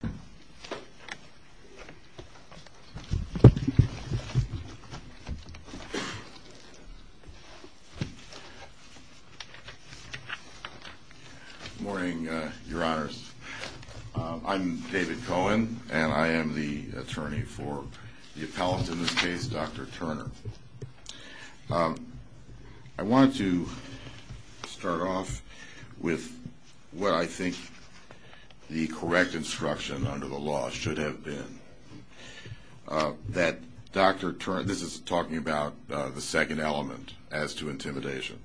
Good morning, your honors. I'm David Cohen, and I am the attorney for the appellate in this case, Dr. Turner. I want to start off with what I think the correct instruction under the law should have been, that Dr. Turner, this is talking about the second element as to intimidation,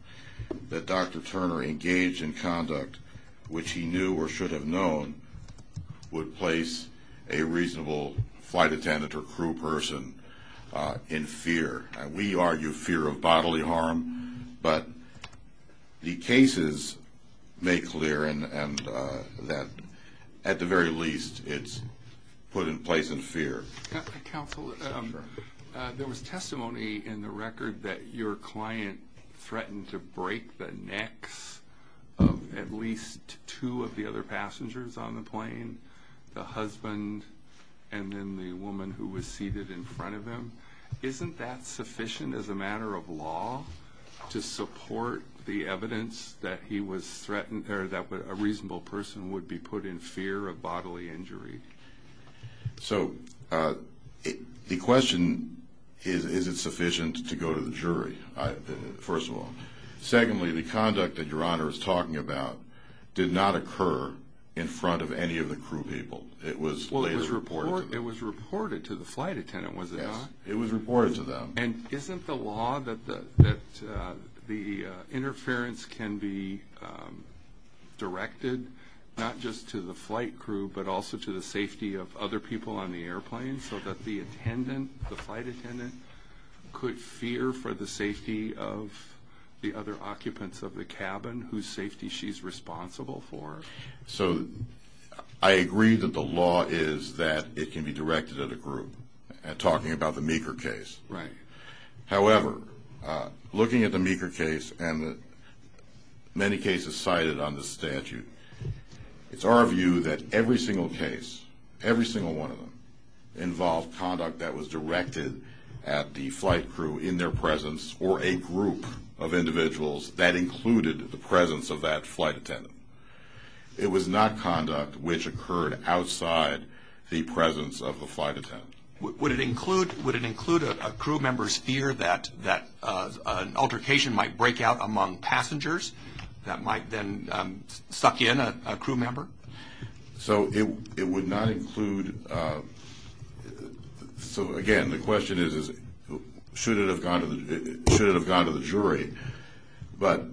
that Dr. Turner engaged in conduct which he knew or should have known would place a reasonable flight attendant or crew person in fear. We argue fear of bodily harm, but the cases make clear that at the very least it's put in place in fear. Counsel, there was testimony in the record that your client threatened to break the necks of at least two of the other passengers on the plane, the husband and then the woman who was seated in front of him. Isn't that sufficient as a matter of law to support the evidence that he was threatened or that a reasonable person would be put in fear of bodily injury? So the question is, is it sufficient to go to the jury, first of all? Secondly, the conduct that Your Honor is talking about did not occur in front of any of the crew people. It was later reported to them. It was reported to the flight attendant, was it not? Yes, it was reported to them. And isn't the law that the interference can be directed not just to the flight crew but also to the safety of other people on the airplane so that the attendant, the flight cabin whose safety she's responsible for? So I agree that the law is that it can be directed at a group, talking about the Meeker case. Right. However, looking at the Meeker case and the many cases cited on the statute, it's our view that every single case, every single one of them, involved conduct that was directed the flight crew in their presence or a group of individuals that included the presence of that flight attendant. It was not conduct which occurred outside the presence of the flight attendant. Would it include a crew member's fear that an altercation might break out among passengers that might then suck in a crew member? So it would not include, so again, the question is, should it have gone to the jury, but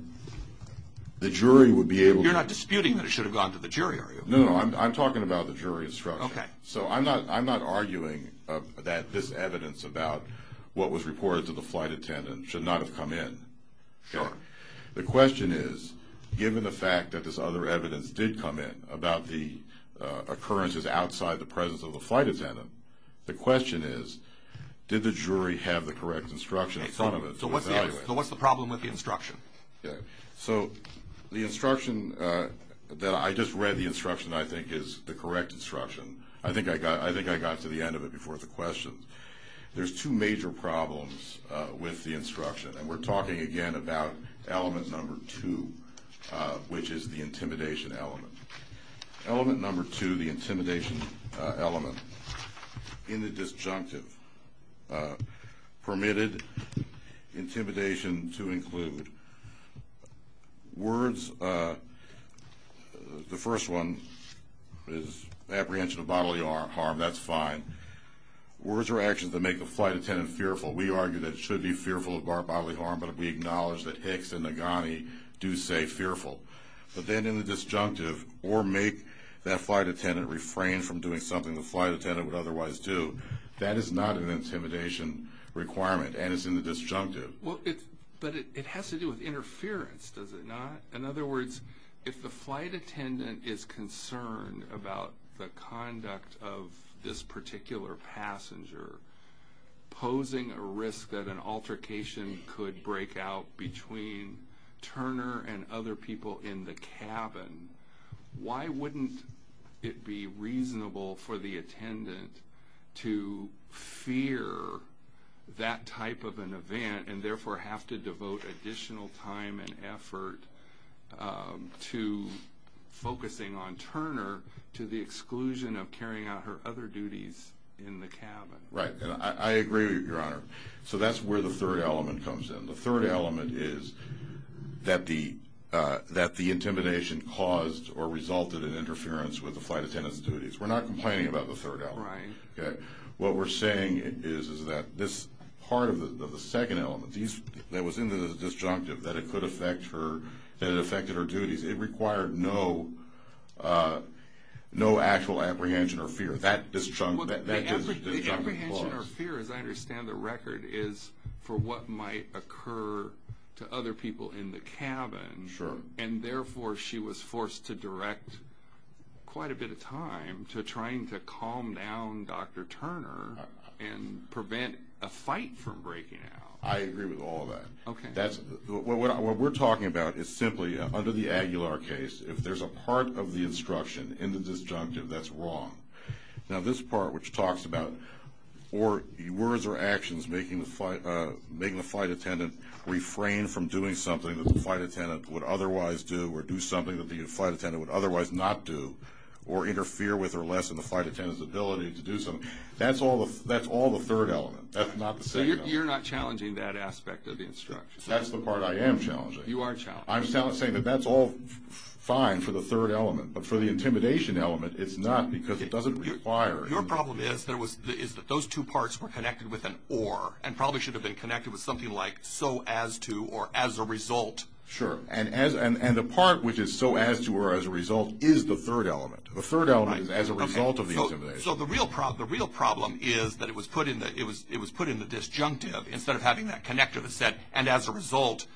the jury would be able to... You're not disputing that it should have gone to the jury, are you? No, no, no. I'm talking about the jury instruction. Okay. So I'm not arguing that this evidence about what was reported to the flight attendant should not have come in. Sure. The question is, given the fact that this other evidence did come in about the occurrences outside the presence of the flight attendant, the question is, did the jury have the correct instruction in front of it to evaluate? So what's the problem with the instruction? So the instruction that I just read, the instruction I think is the correct instruction. I think I got to the end of it before the questions. There's two major problems with the instruction, and we're talking again about element number two, which is the intimidation element. Element number two, the intimidation element, in the disjunctive, permitted intimidation to include words. The first one is apprehension of bodily harm. That's fine. Words or actions that make the flight attendant fearful. We argue that it should be fearful of bodily harm, but we acknowledge that Hicks and Nagani do say fearful. But then in the disjunctive, or make that flight attendant refrain from doing something the flight attendant would otherwise do, that is not an intimidation requirement, and it's in the disjunctive. Well, but it has to do with interference, does it not? In other words, if the flight attendant is concerned about the conduct of this particular passenger, posing a risk that an altercation could break out between Turner and other people in the cabin, why wouldn't it be reasonable for the attendant to fear that type of an to focusing on Turner to the exclusion of carrying out her other duties in the cabin? Right. And I agree with you, Your Honor. So that's where the third element comes in. The third element is that the intimidation caused or resulted in interference with the flight attendant's duties. We're not complaining about the third element. What we're saying is that this part of the second element that was in the disjunctive, that it could affect her, that it affected her duties, it required no actual apprehension or fear. That disjunct, that disjunct clause. Well, the apprehension or fear, as I understand the record, is for what might occur to other people in the cabin, and therefore she was forced to direct quite a bit of time to trying to calm down Dr. Turner and prevent a fight from breaking out. I agree with all that. Okay. What we're talking about is simply, under the Aguilar case, if there's a part of the instruction in the disjunctive that's wrong, now this part which talks about words or actions making the flight attendant refrain from doing something that the flight attendant would otherwise do or do something that the flight attendant would otherwise not do or interfere with or lessen the flight attendant's ability to do something, that's all the third element. That's not the second element. You're not challenging that aspect of the instruction. That's the part I am challenging. You are challenging. I'm saying that that's all fine for the third element, but for the intimidation element, it's not because it doesn't require. Your problem is that those two parts were connected with an or, and probably should have been connected with something like so as to or as a result. Sure. And the part which is so as to or as a result is the third element. The third element is as a result of the intimidation. So the real problem is that it was put in the disjunctive instead of having that connect to the set, and as a result,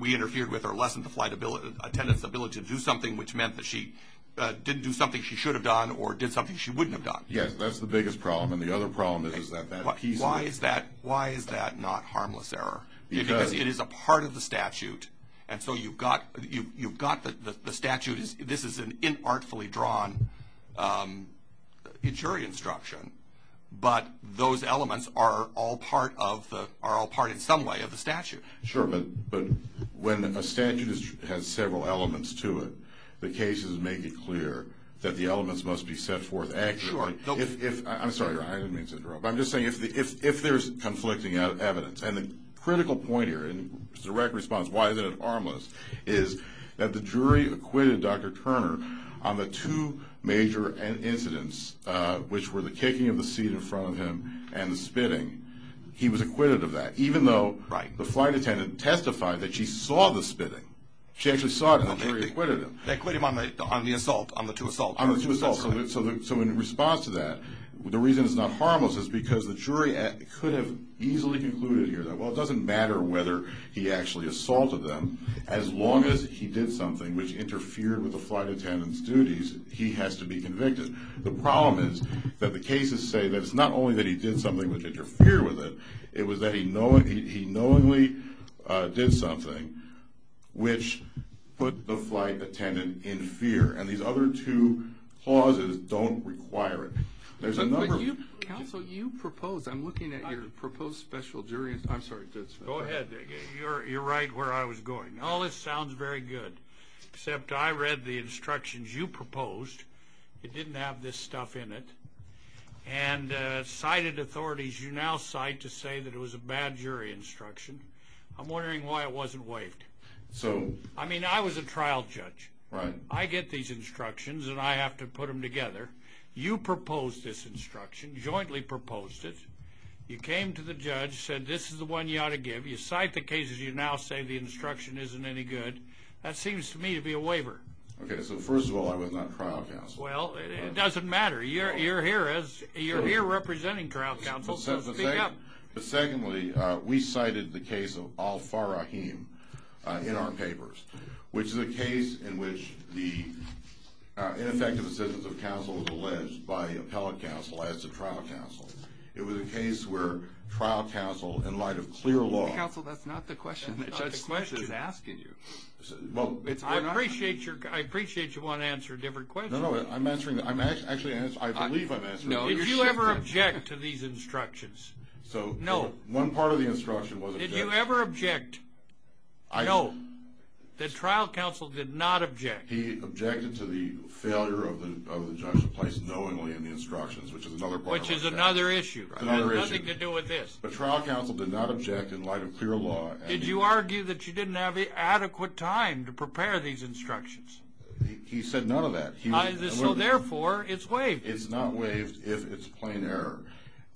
we interfered with or lessened the flight attendant's ability to do something, which meant that she didn't do something she should have done or did something she wouldn't have done. Yes, that's the biggest problem, and the other problem is that piece of it. Why is that not harmless error? Because it is a part of the statute, and so you've got the statute. This is an artfully drawn jury instruction, but those elements are all part of the, are all part in some way of the statute. Sure, but when a statute has several elements to it, the cases make it clear that the elements must be set forth accurately. Sure. If, I'm sorry, I didn't mean to interrupt, but I'm just saying if there's conflicting evidence, and the critical point here, and direct response, why is it harmless, is that the jury acquitted Dr. Turner on the two major incidents, which were the kicking of the seat in front of him and the spitting. He was acquitted of that, even though the flight attendant testified that she saw the spitting. She actually saw it, and the jury acquitted him. They acquitted him on the assault, on the two assaults. On the two assaults, so in response to that, the reason it's not harmless is because the jury could have easily concluded here that, well, it doesn't matter whether he actually assaulted them, as long as he did something which interfered with the flight attendant's duties, he has to be convicted. The problem is that the cases say that it's not only that he did something which interfered with it, it was that he knowingly did something which put the flight attendant in fear, and these other two clauses don't require it. There's a number of- Counsel, you proposed, I'm looking at your proposed special jury, I'm sorry, just- Go ahead, Dick. You're right where I was going. All this sounds very good, except I read the instructions you proposed, it didn't have this stuff in it, and cited authorities, you now cite to say that it was a bad jury instruction. I'm wondering why it wasn't waived. I mean, I was a trial judge. I get these instructions, and I have to put them together. You proposed this instruction, jointly proposed it, you came to the judge, said this is the one you ought to give, you cite the cases, you now say the instruction isn't any good. That seems to me to be a waiver. Okay, so first of all, I was not trial counsel. Well, it doesn't matter, you're here representing trial counsel, so speak up. But secondly, we cited the case of al-Farahim in our papers, which is a case in which the ineffective assistance of counsel was alleged by the appellate counsel as a trial counsel. It was a case where trial counsel, in light of clear law... Counsel, that's not the question the judge is asking you. I appreciate you want to answer a different question. No, no, I'm answering, actually, I believe I'm answering... Did you ever object to these instructions? So one part of the instruction was... Did you ever object? No. The trial counsel did not object. He objected to the failure of the judge to place knowingly in the instructions, which is another part of the instruction. Which is another issue. Another issue. Nothing to do with this. The trial counsel did not object in light of clear law. Did you argue that you didn't have adequate time to prepare these instructions? He said none of that. So therefore, it's waived. It's not waived if it's plain error.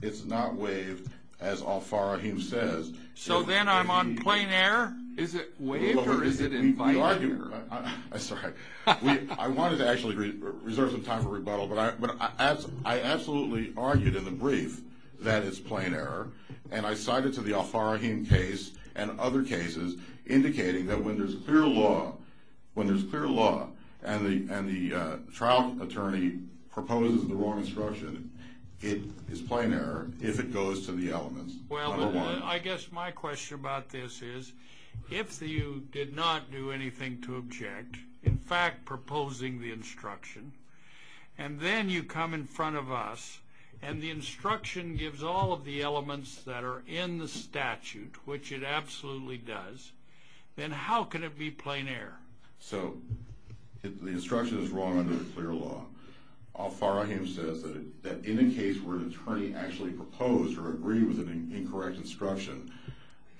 It's not waived, as al-Farahim says... So then I'm on plain error? Is it waived or is it in fine error? I'm sorry. I wanted to actually reserve some time for rebuttal, but I absolutely argued in the brief that it's plain error, and I cited to the al-Farahim case and other cases indicating that when there's clear law, when there's clear law and the trial attorney proposes the wrong instruction, it is plain error if it goes to the elements. Well, I guess my question about this is, if you did not do anything to object, in fact proposing the instruction, and then you come in front of us and the instruction gives all of the elements that are in the statute, which it absolutely does, then how can it be plain error? So the instruction is wrong under clear law. Al-Farahim says that in a case where an attorney actually proposed or agreed with an incorrect instruction,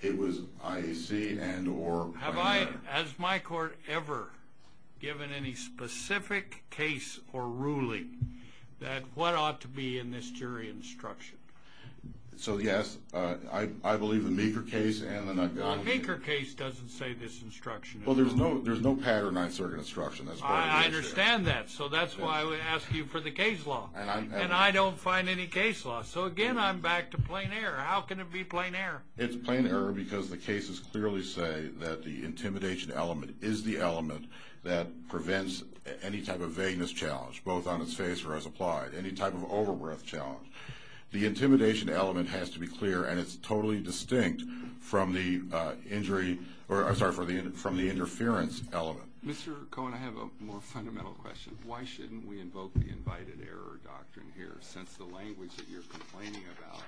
it was IAC and or plain error. Has my court ever given any specific case or ruling that what ought to be in this jury instruction? So, yes, I believe the Meeker case and the... The Meeker case doesn't say this instruction. Well, there's no pattern I assert in instruction. I understand that. So that's why I would ask you for the case law, and I don't find any case law. So again, I'm back to plain error. How can it be plain error? It's plain error because the cases clearly say that the intimidation element is the element that prevents any type of vagueness challenge, both on its face or as applied, any type of over-breath challenge. The intimidation element has to be clear, and it's totally distinct from the injury or, I'm sorry, from the interference element. Mr. Cohen, I have a more fundamental question. Why shouldn't we invoke the invited error doctrine here, since the language that you're complaining about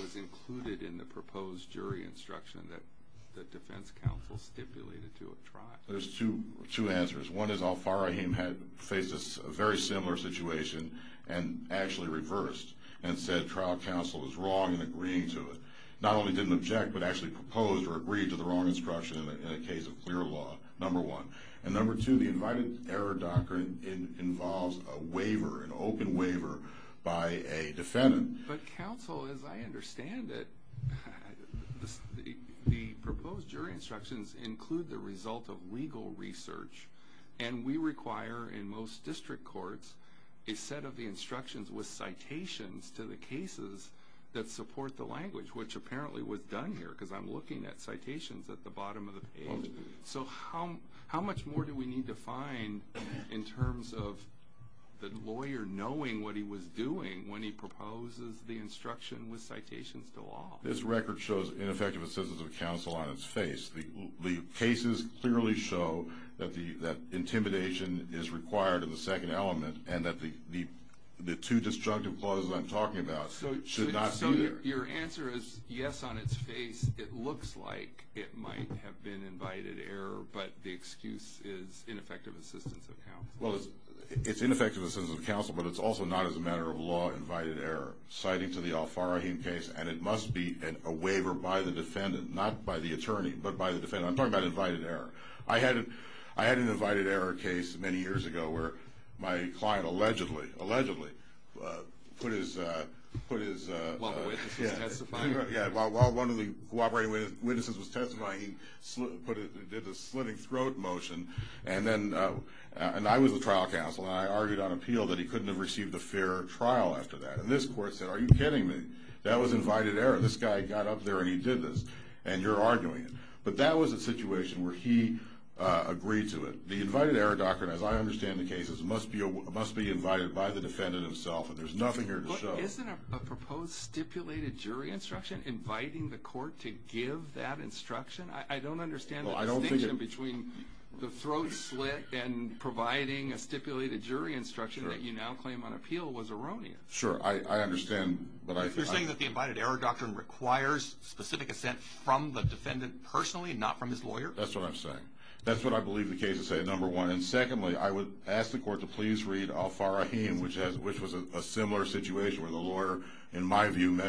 was included in the proposed jury instruction that the defense counsel stipulated to have tried? There's two answers. One is al-Farrahim had faced a very similar situation and actually reversed and said trial counsel was wrong in agreeing to it, not only didn't object, but actually proposed or agreed to the wrong instruction in a case of clear law, number one. And number two, the invited error doctrine involves a waiver, an open waiver by a defendant. But counsel, as I understand it, the proposed jury instructions include the result of legal research, and we require, in most district courts, a set of the instructions with citations to the cases that support the language, which apparently was done here, because I'm looking at citations at the bottom of the page. So how much more do we need to find in terms of the lawyer knowing what he was doing when he proposes the instruction with citations to law? This record shows ineffective assistance of counsel on its face. The cases clearly show that intimidation is required in the second element, and that the two destructive clauses I'm talking about should not be there. Your answer is yes on its face. It looks like it might have been invited error, but the excuse is ineffective assistance of counsel. Well, it's ineffective assistance of counsel, but it's also not as a matter of law invited error. Citing to the Al-Farraheem case, and it must be a waiver by the defendant, not by the attorney, but by the defendant. I'm talking about invited error. I had an invited error case many years ago where my client allegedly put his- While the witness was testifying. Yeah. While one of the cooperating witnesses was testifying, he did the slitting throat motion, and I was the trial counsel, and I argued on appeal that he couldn't have received a fair trial after that, and this court said, are you kidding me? That was invited error. This guy got up there and he did this, and you're arguing it. But that was a situation where he agreed to it. The invited error doctrine, as I understand the case, must be invited by the defendant himself, and there's nothing here to show. Isn't a proposed stipulated jury instruction inviting the court to give that instruction? I don't understand the distinction between the throat slit and providing a stipulated jury instruction that you now claim on appeal was erroneous. Sure. I understand, but I- You're saying that the invited error doctrine requires specific assent from the defendant personally, not from his lawyer? That's what I'm saying. That's what I believe the case is saying, number one, and secondly, I would ask the my view,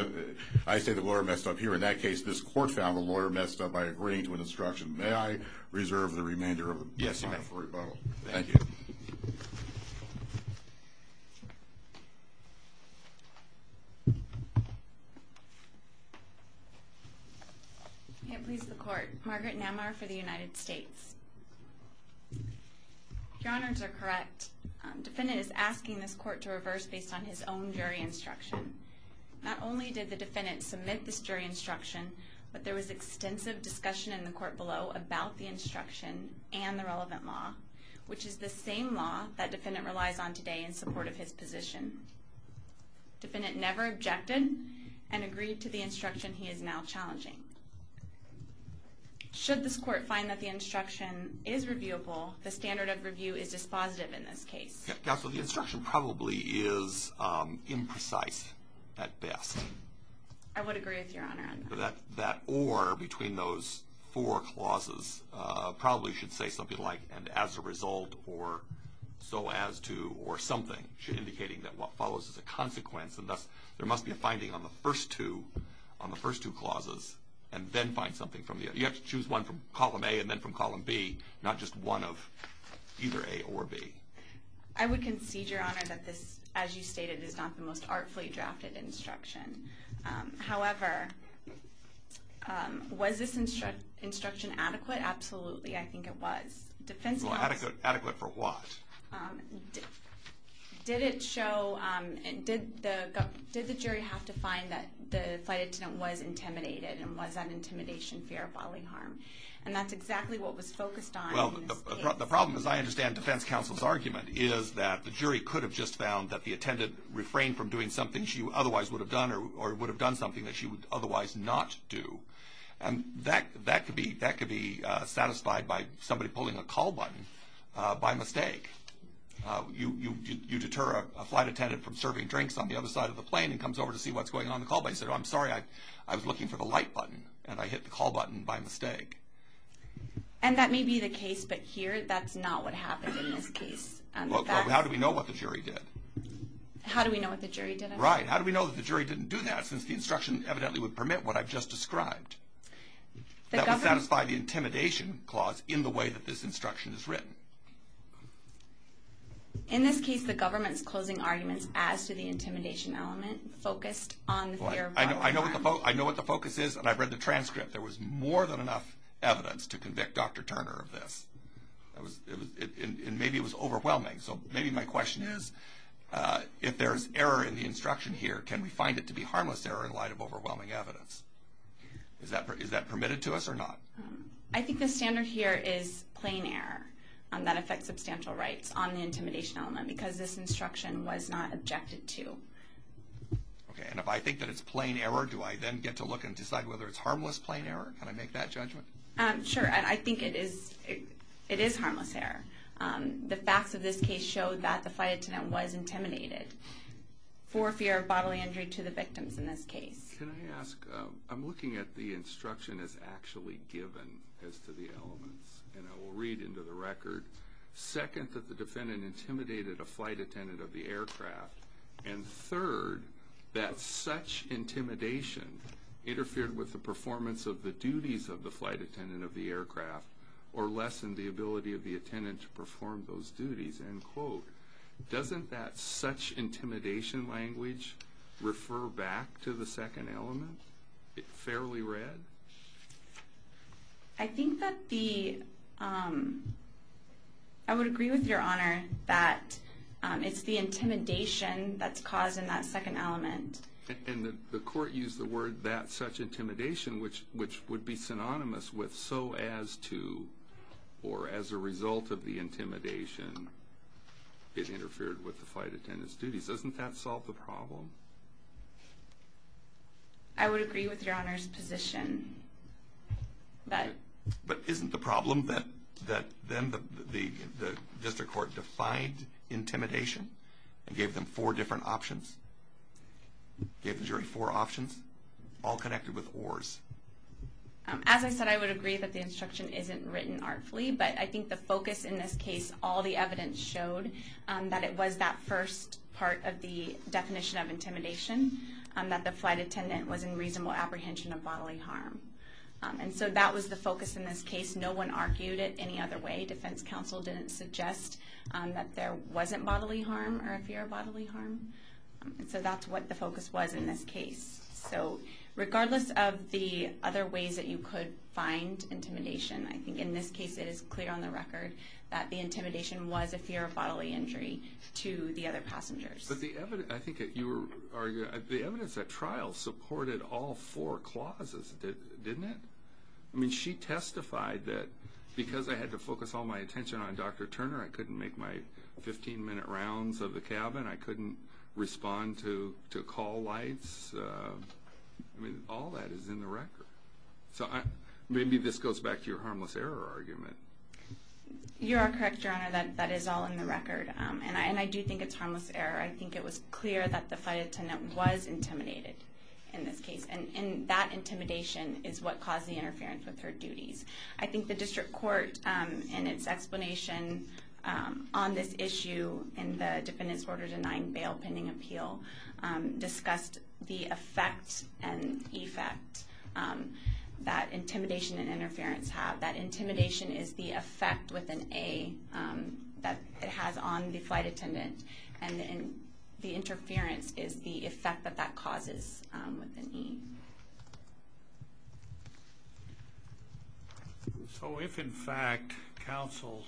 I say the lawyer messed up here. In that case, this court found the lawyer messed up by agreeing to an instruction. May I reserve the remainder of the time for rebuttal? Yes, you may. Thank you. I can't please the court. Margaret Namar for the United States. Your honors are correct. Defendant is asking this court to reverse based on his own jury instruction. Not only did the defendant submit this jury instruction, but there was extensive discussion in the court below about the instruction and the relevant law, which is the same law that defendant relies on today in support of his position. Defendant never objected and agreed to the instruction he is now challenging. Should this court find that the instruction is reviewable, the standard of review is dispositive in this case? Counsel, the instruction probably is imprecise at best. I would agree with your honor on that. That or between those four clauses probably should say something like, and as a result or so as to or something, indicating that what follows is a consequence and thus there must be a finding on the first two, on the first two clauses and then find something from the other. You have to choose one from column A and then from column B, not just one of either A or B. I would concede, your honor, that this, as you stated, is not the most artfully drafted instruction. However, was this instruction adequate? Absolutely. I think it was. Defense counsel. Adequate for what? Did it show, did the jury have to find that the flight attendant was intimidated and was And that's exactly what was focused on in this case. The problem, as I understand defense counsel's argument, is that the jury could have just found that the attendant refrained from doing something she otherwise would have done or would have done something that she would otherwise not do. And that could be satisfied by somebody pulling a call button by mistake. You deter a flight attendant from serving drinks on the other side of the plane and comes over to see what's going on in the call, but he said, I'm sorry, I was looking for the light button and I hit the call button by mistake. And that may be the case, but here that's not what happened in this case. Well, how do we know what the jury did? How do we know what the jury did? Right. How do we know that the jury didn't do that since the instruction evidently would permit what I've just described? That would satisfy the intimidation clause in the way that this instruction is written. In this case, the government's closing arguments as to the intimidation element focused on the fear of... I know what the focus is and I've read the transcript. There was more than enough evidence to convict Dr. Turner of this. Maybe it was overwhelming. So maybe my question is, if there's error in the instruction here, can we find it to be harmless error in light of overwhelming evidence? Is that permitted to us or not? I think the standard here is plain error. That affects substantial rights on the intimidation element because this instruction was not objected to. Okay. And if I think that it's plain error, do I then get to look and decide whether it's plain error? Can I make that judgment? Sure. I think it is harmless error. The facts of this case show that the flight attendant was intimidated for fear of bodily injury to the victims in this case. Can I ask... I'm looking at the instruction as actually given as to the elements and I will read into the record. Second, that the defendant intimidated a flight attendant of the aircraft. And third, that such intimidation interfered with the performance of the duties of the flight attendant of the aircraft or lessened the ability of the attendant to perform those duties. End quote. Doesn't that such intimidation language refer back to the second element, fairly read? I think that the... I would agree with Your Honor that it's the intimidation that's caused in that second element. And the court used the word that such intimidation, which would be synonymous with so as to or as a result of the intimidation, it interfered with the flight attendant's duties. Doesn't that solve the problem? I would agree with Your Honor's position. But isn't the problem that then the district court defined intimidation and gave them four different options? Gave the jury four options, all connected with ors? As I said, I would agree that the instruction isn't written artfully, but I think the focus in this case, all the evidence showed that it was that first part of the definition of intimidation, that the flight attendant was in reasonable apprehension of bodily harm. And so that was the focus in this case. No one argued it any other way. Defense counsel didn't suggest that there wasn't bodily harm or a fear of bodily harm. So that's what the focus was in this case. So regardless of the other ways that you could find intimidation, I think in this case it is clear on the record that the intimidation was a fear of bodily injury to the other passengers. But the evidence, I think that you were arguing, the evidence at trial supported all four clauses, didn't it? I mean, she testified that because I had to focus all my attention on Dr. Turner, I couldn't make my 15-minute rounds of the cabin, I couldn't respond to call lights, I mean, all that is in the record. So maybe this goes back to your harmless error argument. You are correct, Your Honor, that that is all in the record. And I do think it's harmless error. I think it was clear that the flight attendant was intimidated in this case, and that intimidation is what caused the interference with her duties. I think the district court, in its explanation on this issue in the defendant's order-denying bail pending appeal, discussed the effect and effect that intimidation and interference have. That intimidation is the effect with an A that it has on the flight attendant, and the interference is the effect that that causes with an E. So if, in fact, counsel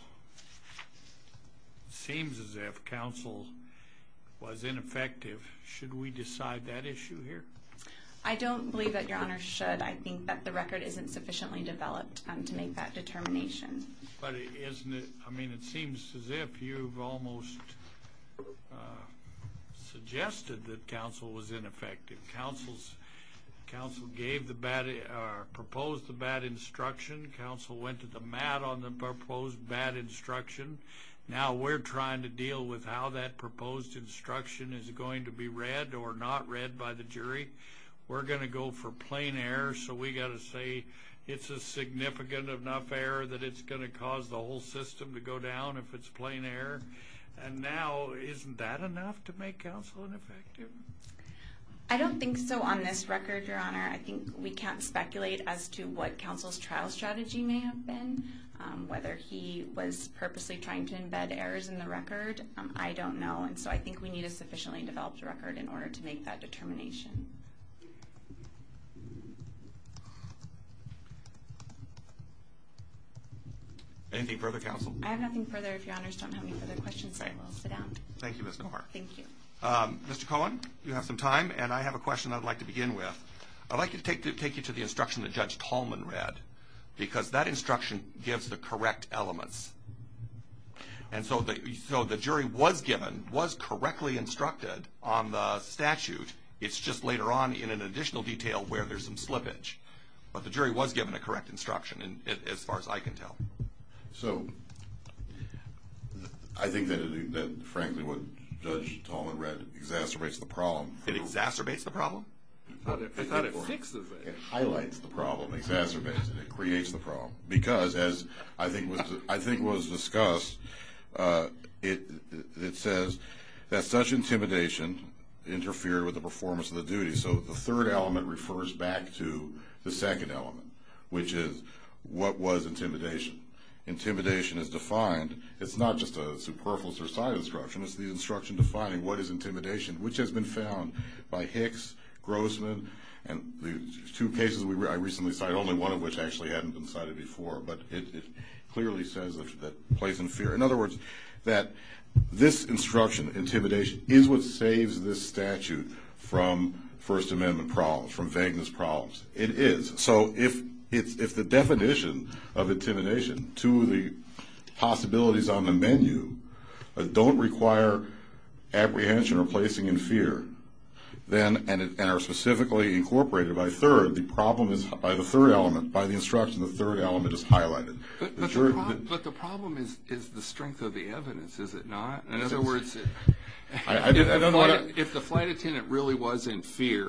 seems as if counsel was ineffective, should we decide that issue here? I don't believe that, Your Honor, should. But I think that the record isn't sufficiently developed to make that determination. But isn't it, I mean, it seems as if you've almost suggested that counsel was ineffective. Counsel gave the bad, or proposed the bad instruction. Counsel went to the mat on the proposed bad instruction. Now we're trying to deal with how that proposed instruction is going to be read or not read by the jury. We're going to go for plain error, so we've got to say it's a significant enough error that it's going to cause the whole system to go down if it's plain error. And now, isn't that enough to make counsel ineffective? I don't think so on this record, Your Honor. I think we can't speculate as to what counsel's trial strategy may have been, whether he was purposely trying to embed errors in the record. I don't know. And so I think we need a sufficiently developed record in order to make that determination. Anything further, counsel? I have nothing further. If Your Honors don't have any further questions, I will sit down. Thank you, Ms. DeMar. Thank you. Mr. Cohen, you have some time. And I have a question I'd like to begin with. I'd like to take you to the instruction that Judge Tallman read. Because that instruction gives the correct elements. And so the jury was given, was correctly instructed on the statute. It's just later on in an additional detail where there's some slippage. But the jury was given a correct instruction, as far as I can tell. So I think that frankly what Judge Tallman read exacerbates the problem. It exacerbates the problem? I thought it fixes it. It highlights the problem, exacerbates it. It creates the problem. Because, as I think was discussed, it says that such intimidation interfered with the performance of the duty. So the third element refers back to the second element, which is what was intimidation. Intimidation is defined. It's not just a superfluous or cited instruction. It's the instruction defining what is intimidation, which has been found by Hicks, Grossman, and the two cases I recently cited, only one of which actually hadn't been cited before. But it clearly says that place in fear. In other words, that this instruction, intimidation, is what saves this statute from First Amendment problems, from vagueness problems. It is. So if the definition of intimidation, two of the possibilities on the menu, don't require apprehension or placing in fear, and are specifically incorporated by the third element, by the instruction the third element is highlighted. But the problem is the strength of the evidence, is it not? In other words, if the flight attendant really was in fear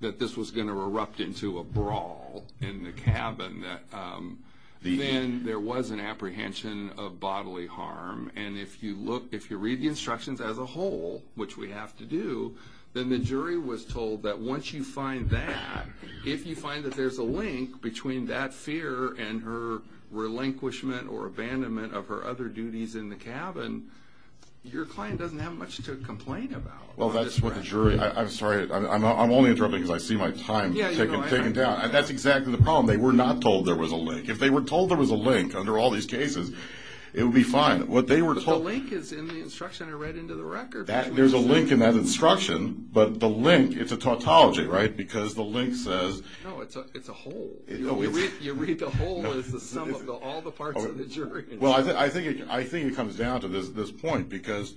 that this was going to erupt into a brawl in the cabin, then there was an apprehension of bodily harm. And if you read the instructions as a whole, which we have to do, then the jury was told that once you find that, if you find that there's a link between that fear and her relinquishment or abandonment of her other duties in the cabin, your client doesn't have much to complain about. Well, that's what the jury, I'm sorry, I'm only interrupting because I see my time taking down. That's exactly the problem. They were not told there was a link. If they were told there was a link under all these cases, it would be fine. But the link is in the instruction I read into the record. There's a link in that instruction, but the link, it's a tautology, right? Because the link says... No, it's a whole. You read the whole as the sum of all the parts of the jury instruction. Well, I think it comes down to this point because,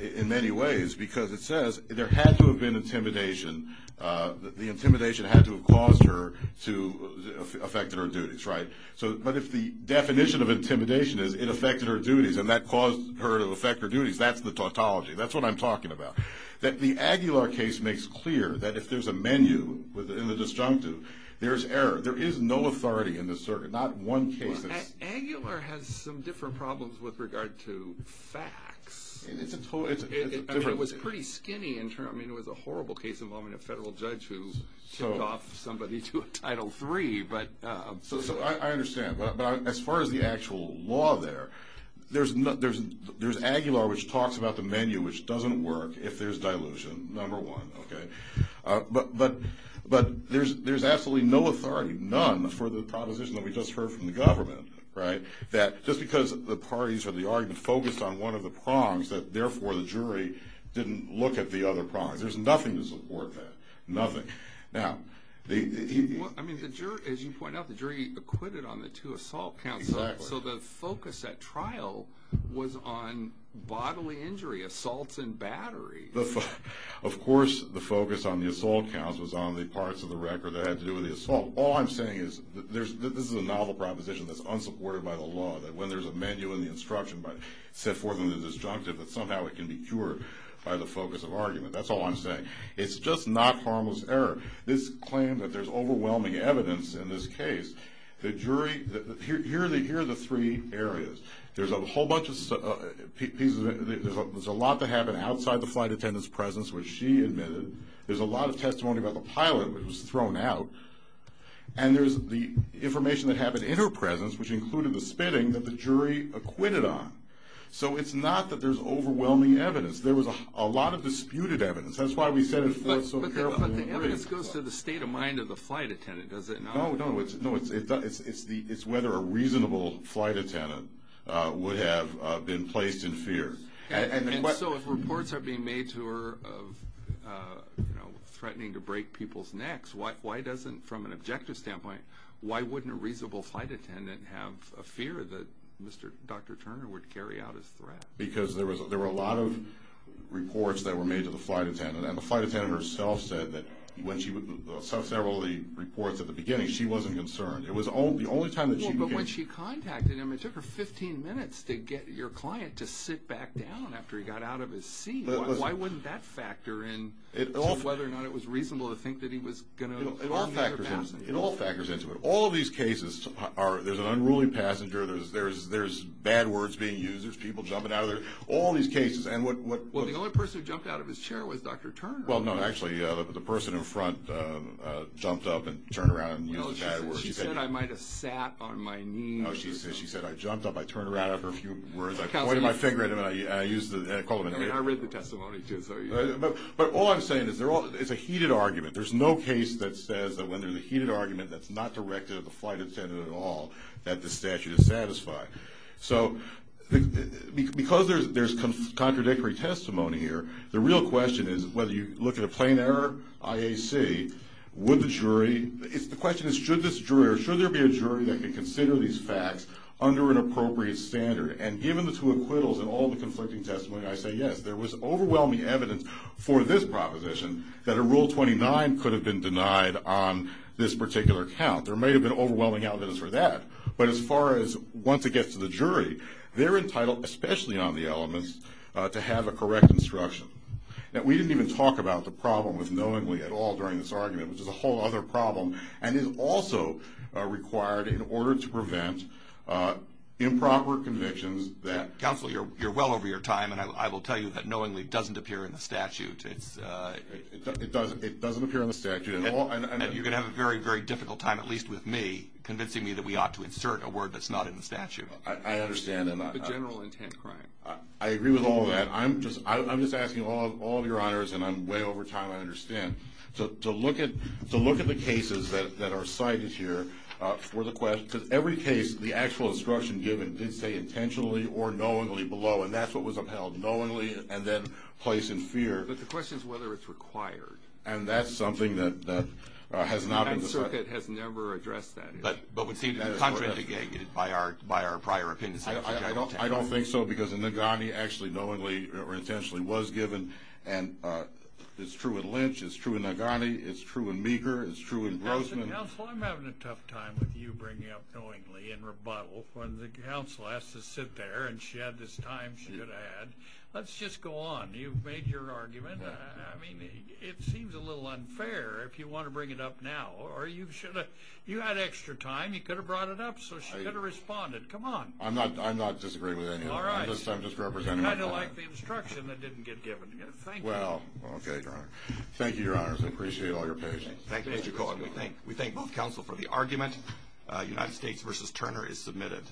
in many ways, because it says there had to have been intimidation. The intimidation had to have caused her to affect her duties, right? But if the definition of intimidation is it affected her duties and that caused her to affect her duties, that's the tautology. That's what I'm talking about. That the Aguilar case makes clear that if there's a menu in the disjunctive, there's error. There is no authority in this circuit, not one case that's... Well, Aguilar has some different problems with regard to facts. It's a totally different... I mean, it was pretty skinny. I mean, it was a horrible case involving a federal judge who tipped off somebody to a Title III, but... So I understand. But as far as the actual law there, there's Aguilar which talks about the menu, which doesn't work if there's dilution, number one, okay? But there's absolutely no authority, none, for the proposition that we just heard from the government, right? That just because the parties or the argument focused on one of the prongs that, therefore, the jury didn't look at the other prongs. There's nothing to support that, nothing. I mean, as you pointed out, the jury acquitted on the two assault counts. Exactly. So the focus at trial was on bodily injury, assaults and battery. Of course, the focus on the assault counts was on the parts of the record that had to do with the assault. All I'm saying is this is a novel proposition that's unsupported by the law, that when there's a menu in the instruction set forth in the disjunctive, that somehow it can be cured by the focus of argument. That's all I'm saying. It's just not harmless error. This claim that there's overwhelming evidence in this case, the jury, here are the three areas. There's a whole bunch of pieces. There's a lot that happened outside the flight attendant's presence, which she admitted. There's a lot of testimony about the pilot, which was thrown out. And there's the information that happened in her presence, which included the spitting, that the jury acquitted on. So it's not that there's overwhelming evidence. There was a lot of disputed evidence. That's why we set it forth so carefully. But the evidence goes to the state of mind of the flight attendant, does it not? No, no. It's whether a reasonable flight attendant would have been placed in fear. And so if reports are being made to her of threatening to break people's necks, why doesn't, from an objective standpoint, why wouldn't a reasonable flight attendant have a fear that Dr. Turner would carry out his threat? Because there were a lot of reports that were made to the flight attendant, and the flight attendant herself said that when she saw several of the reports at the beginning, she wasn't concerned. It was the only time that she began— Well, but when she contacted him, it took her 15 minutes to get your client to sit back down after he got out of his seat. Why wouldn't that factor in to whether or not it was reasonable to think that he was going to harm the other passenger? It all factors into it. All of these cases, there's an unruly passenger. There's bad words being used. There's people jumping out of their—all these cases, and what— Well, the only person who jumped out of his chair was Dr. Turner. Well, no, actually, the person in front jumped up and turned around and used the bad words. She said, I might have sat on my knees. Oh, she said, I jumped up, I turned around after a few words, I pointed my finger at him, and I used the— I mean, I read the testimony, too, so— But all I'm saying is it's a heated argument. There's no case that says that when there's a heated argument that's not directed at the flight attendant at all that the statute is satisfied. So because there's contradictory testimony here, the real question is whether you look at a plain error IAC, would the jury— The question is should this jury or should there be a jury that could consider these facts under an appropriate standard? And given the two acquittals and all the conflicting testimony, I say yes. There was overwhelming evidence for this proposition that a Rule 29 could have been denied on this particular count. There may have been overwhelming evidence for that. But as far as once it gets to the jury, they're entitled, especially on the elements, to have a correct instruction. Now, we didn't even talk about the problem with knowingly at all during this argument, which is a whole other problem, and is also required in order to prevent improper convictions that— Counsel, you're well over your time, and I will tell you that knowingly doesn't appear in the statute. It doesn't appear in the statute at all. You're going to have a very, very difficult time, at least with me, convincing me that we ought to insert a word that's not in the statute. I understand. The general intent crime. I agree with all of that. I'm just asking all of your honors, and I'm way over time, I understand, to look at the cases that are cited here for the question. Because every case, the actual instruction given did say intentionally or knowingly below, and that's what was upheld, knowingly and then place in fear. But the question is whether it's required. And that's something that has not been— The Ninth Circuit has never addressed that issue. But we seem to be contradicted by our prior opinions. I don't think so, because in Nagani, actually knowingly or intentionally was given, and it's true in Lynch, it's true in Nagani, it's true in Meagher, it's true in Grossman. Counsel, I'm having a tough time with you bringing up knowingly in rebuttal. When the counsel has to sit there, and she had this time she could add, let's just go on. You've made your argument. I mean, it seems a little unfair if you want to bring it up now. Or you should have—you had extra time. You could have brought it up, so she could have responded. Come on. I'm not disagreeing with any of it. All right. I'm just representing my point. I kind of like the instruction that didn't get given. Thank you. Well, okay, Your Honor. Thank you, Your Honors. I appreciate all your patience. Thank you, Mr. Cohen. We thank both counsel for the argument. United States v. Turner is submitted.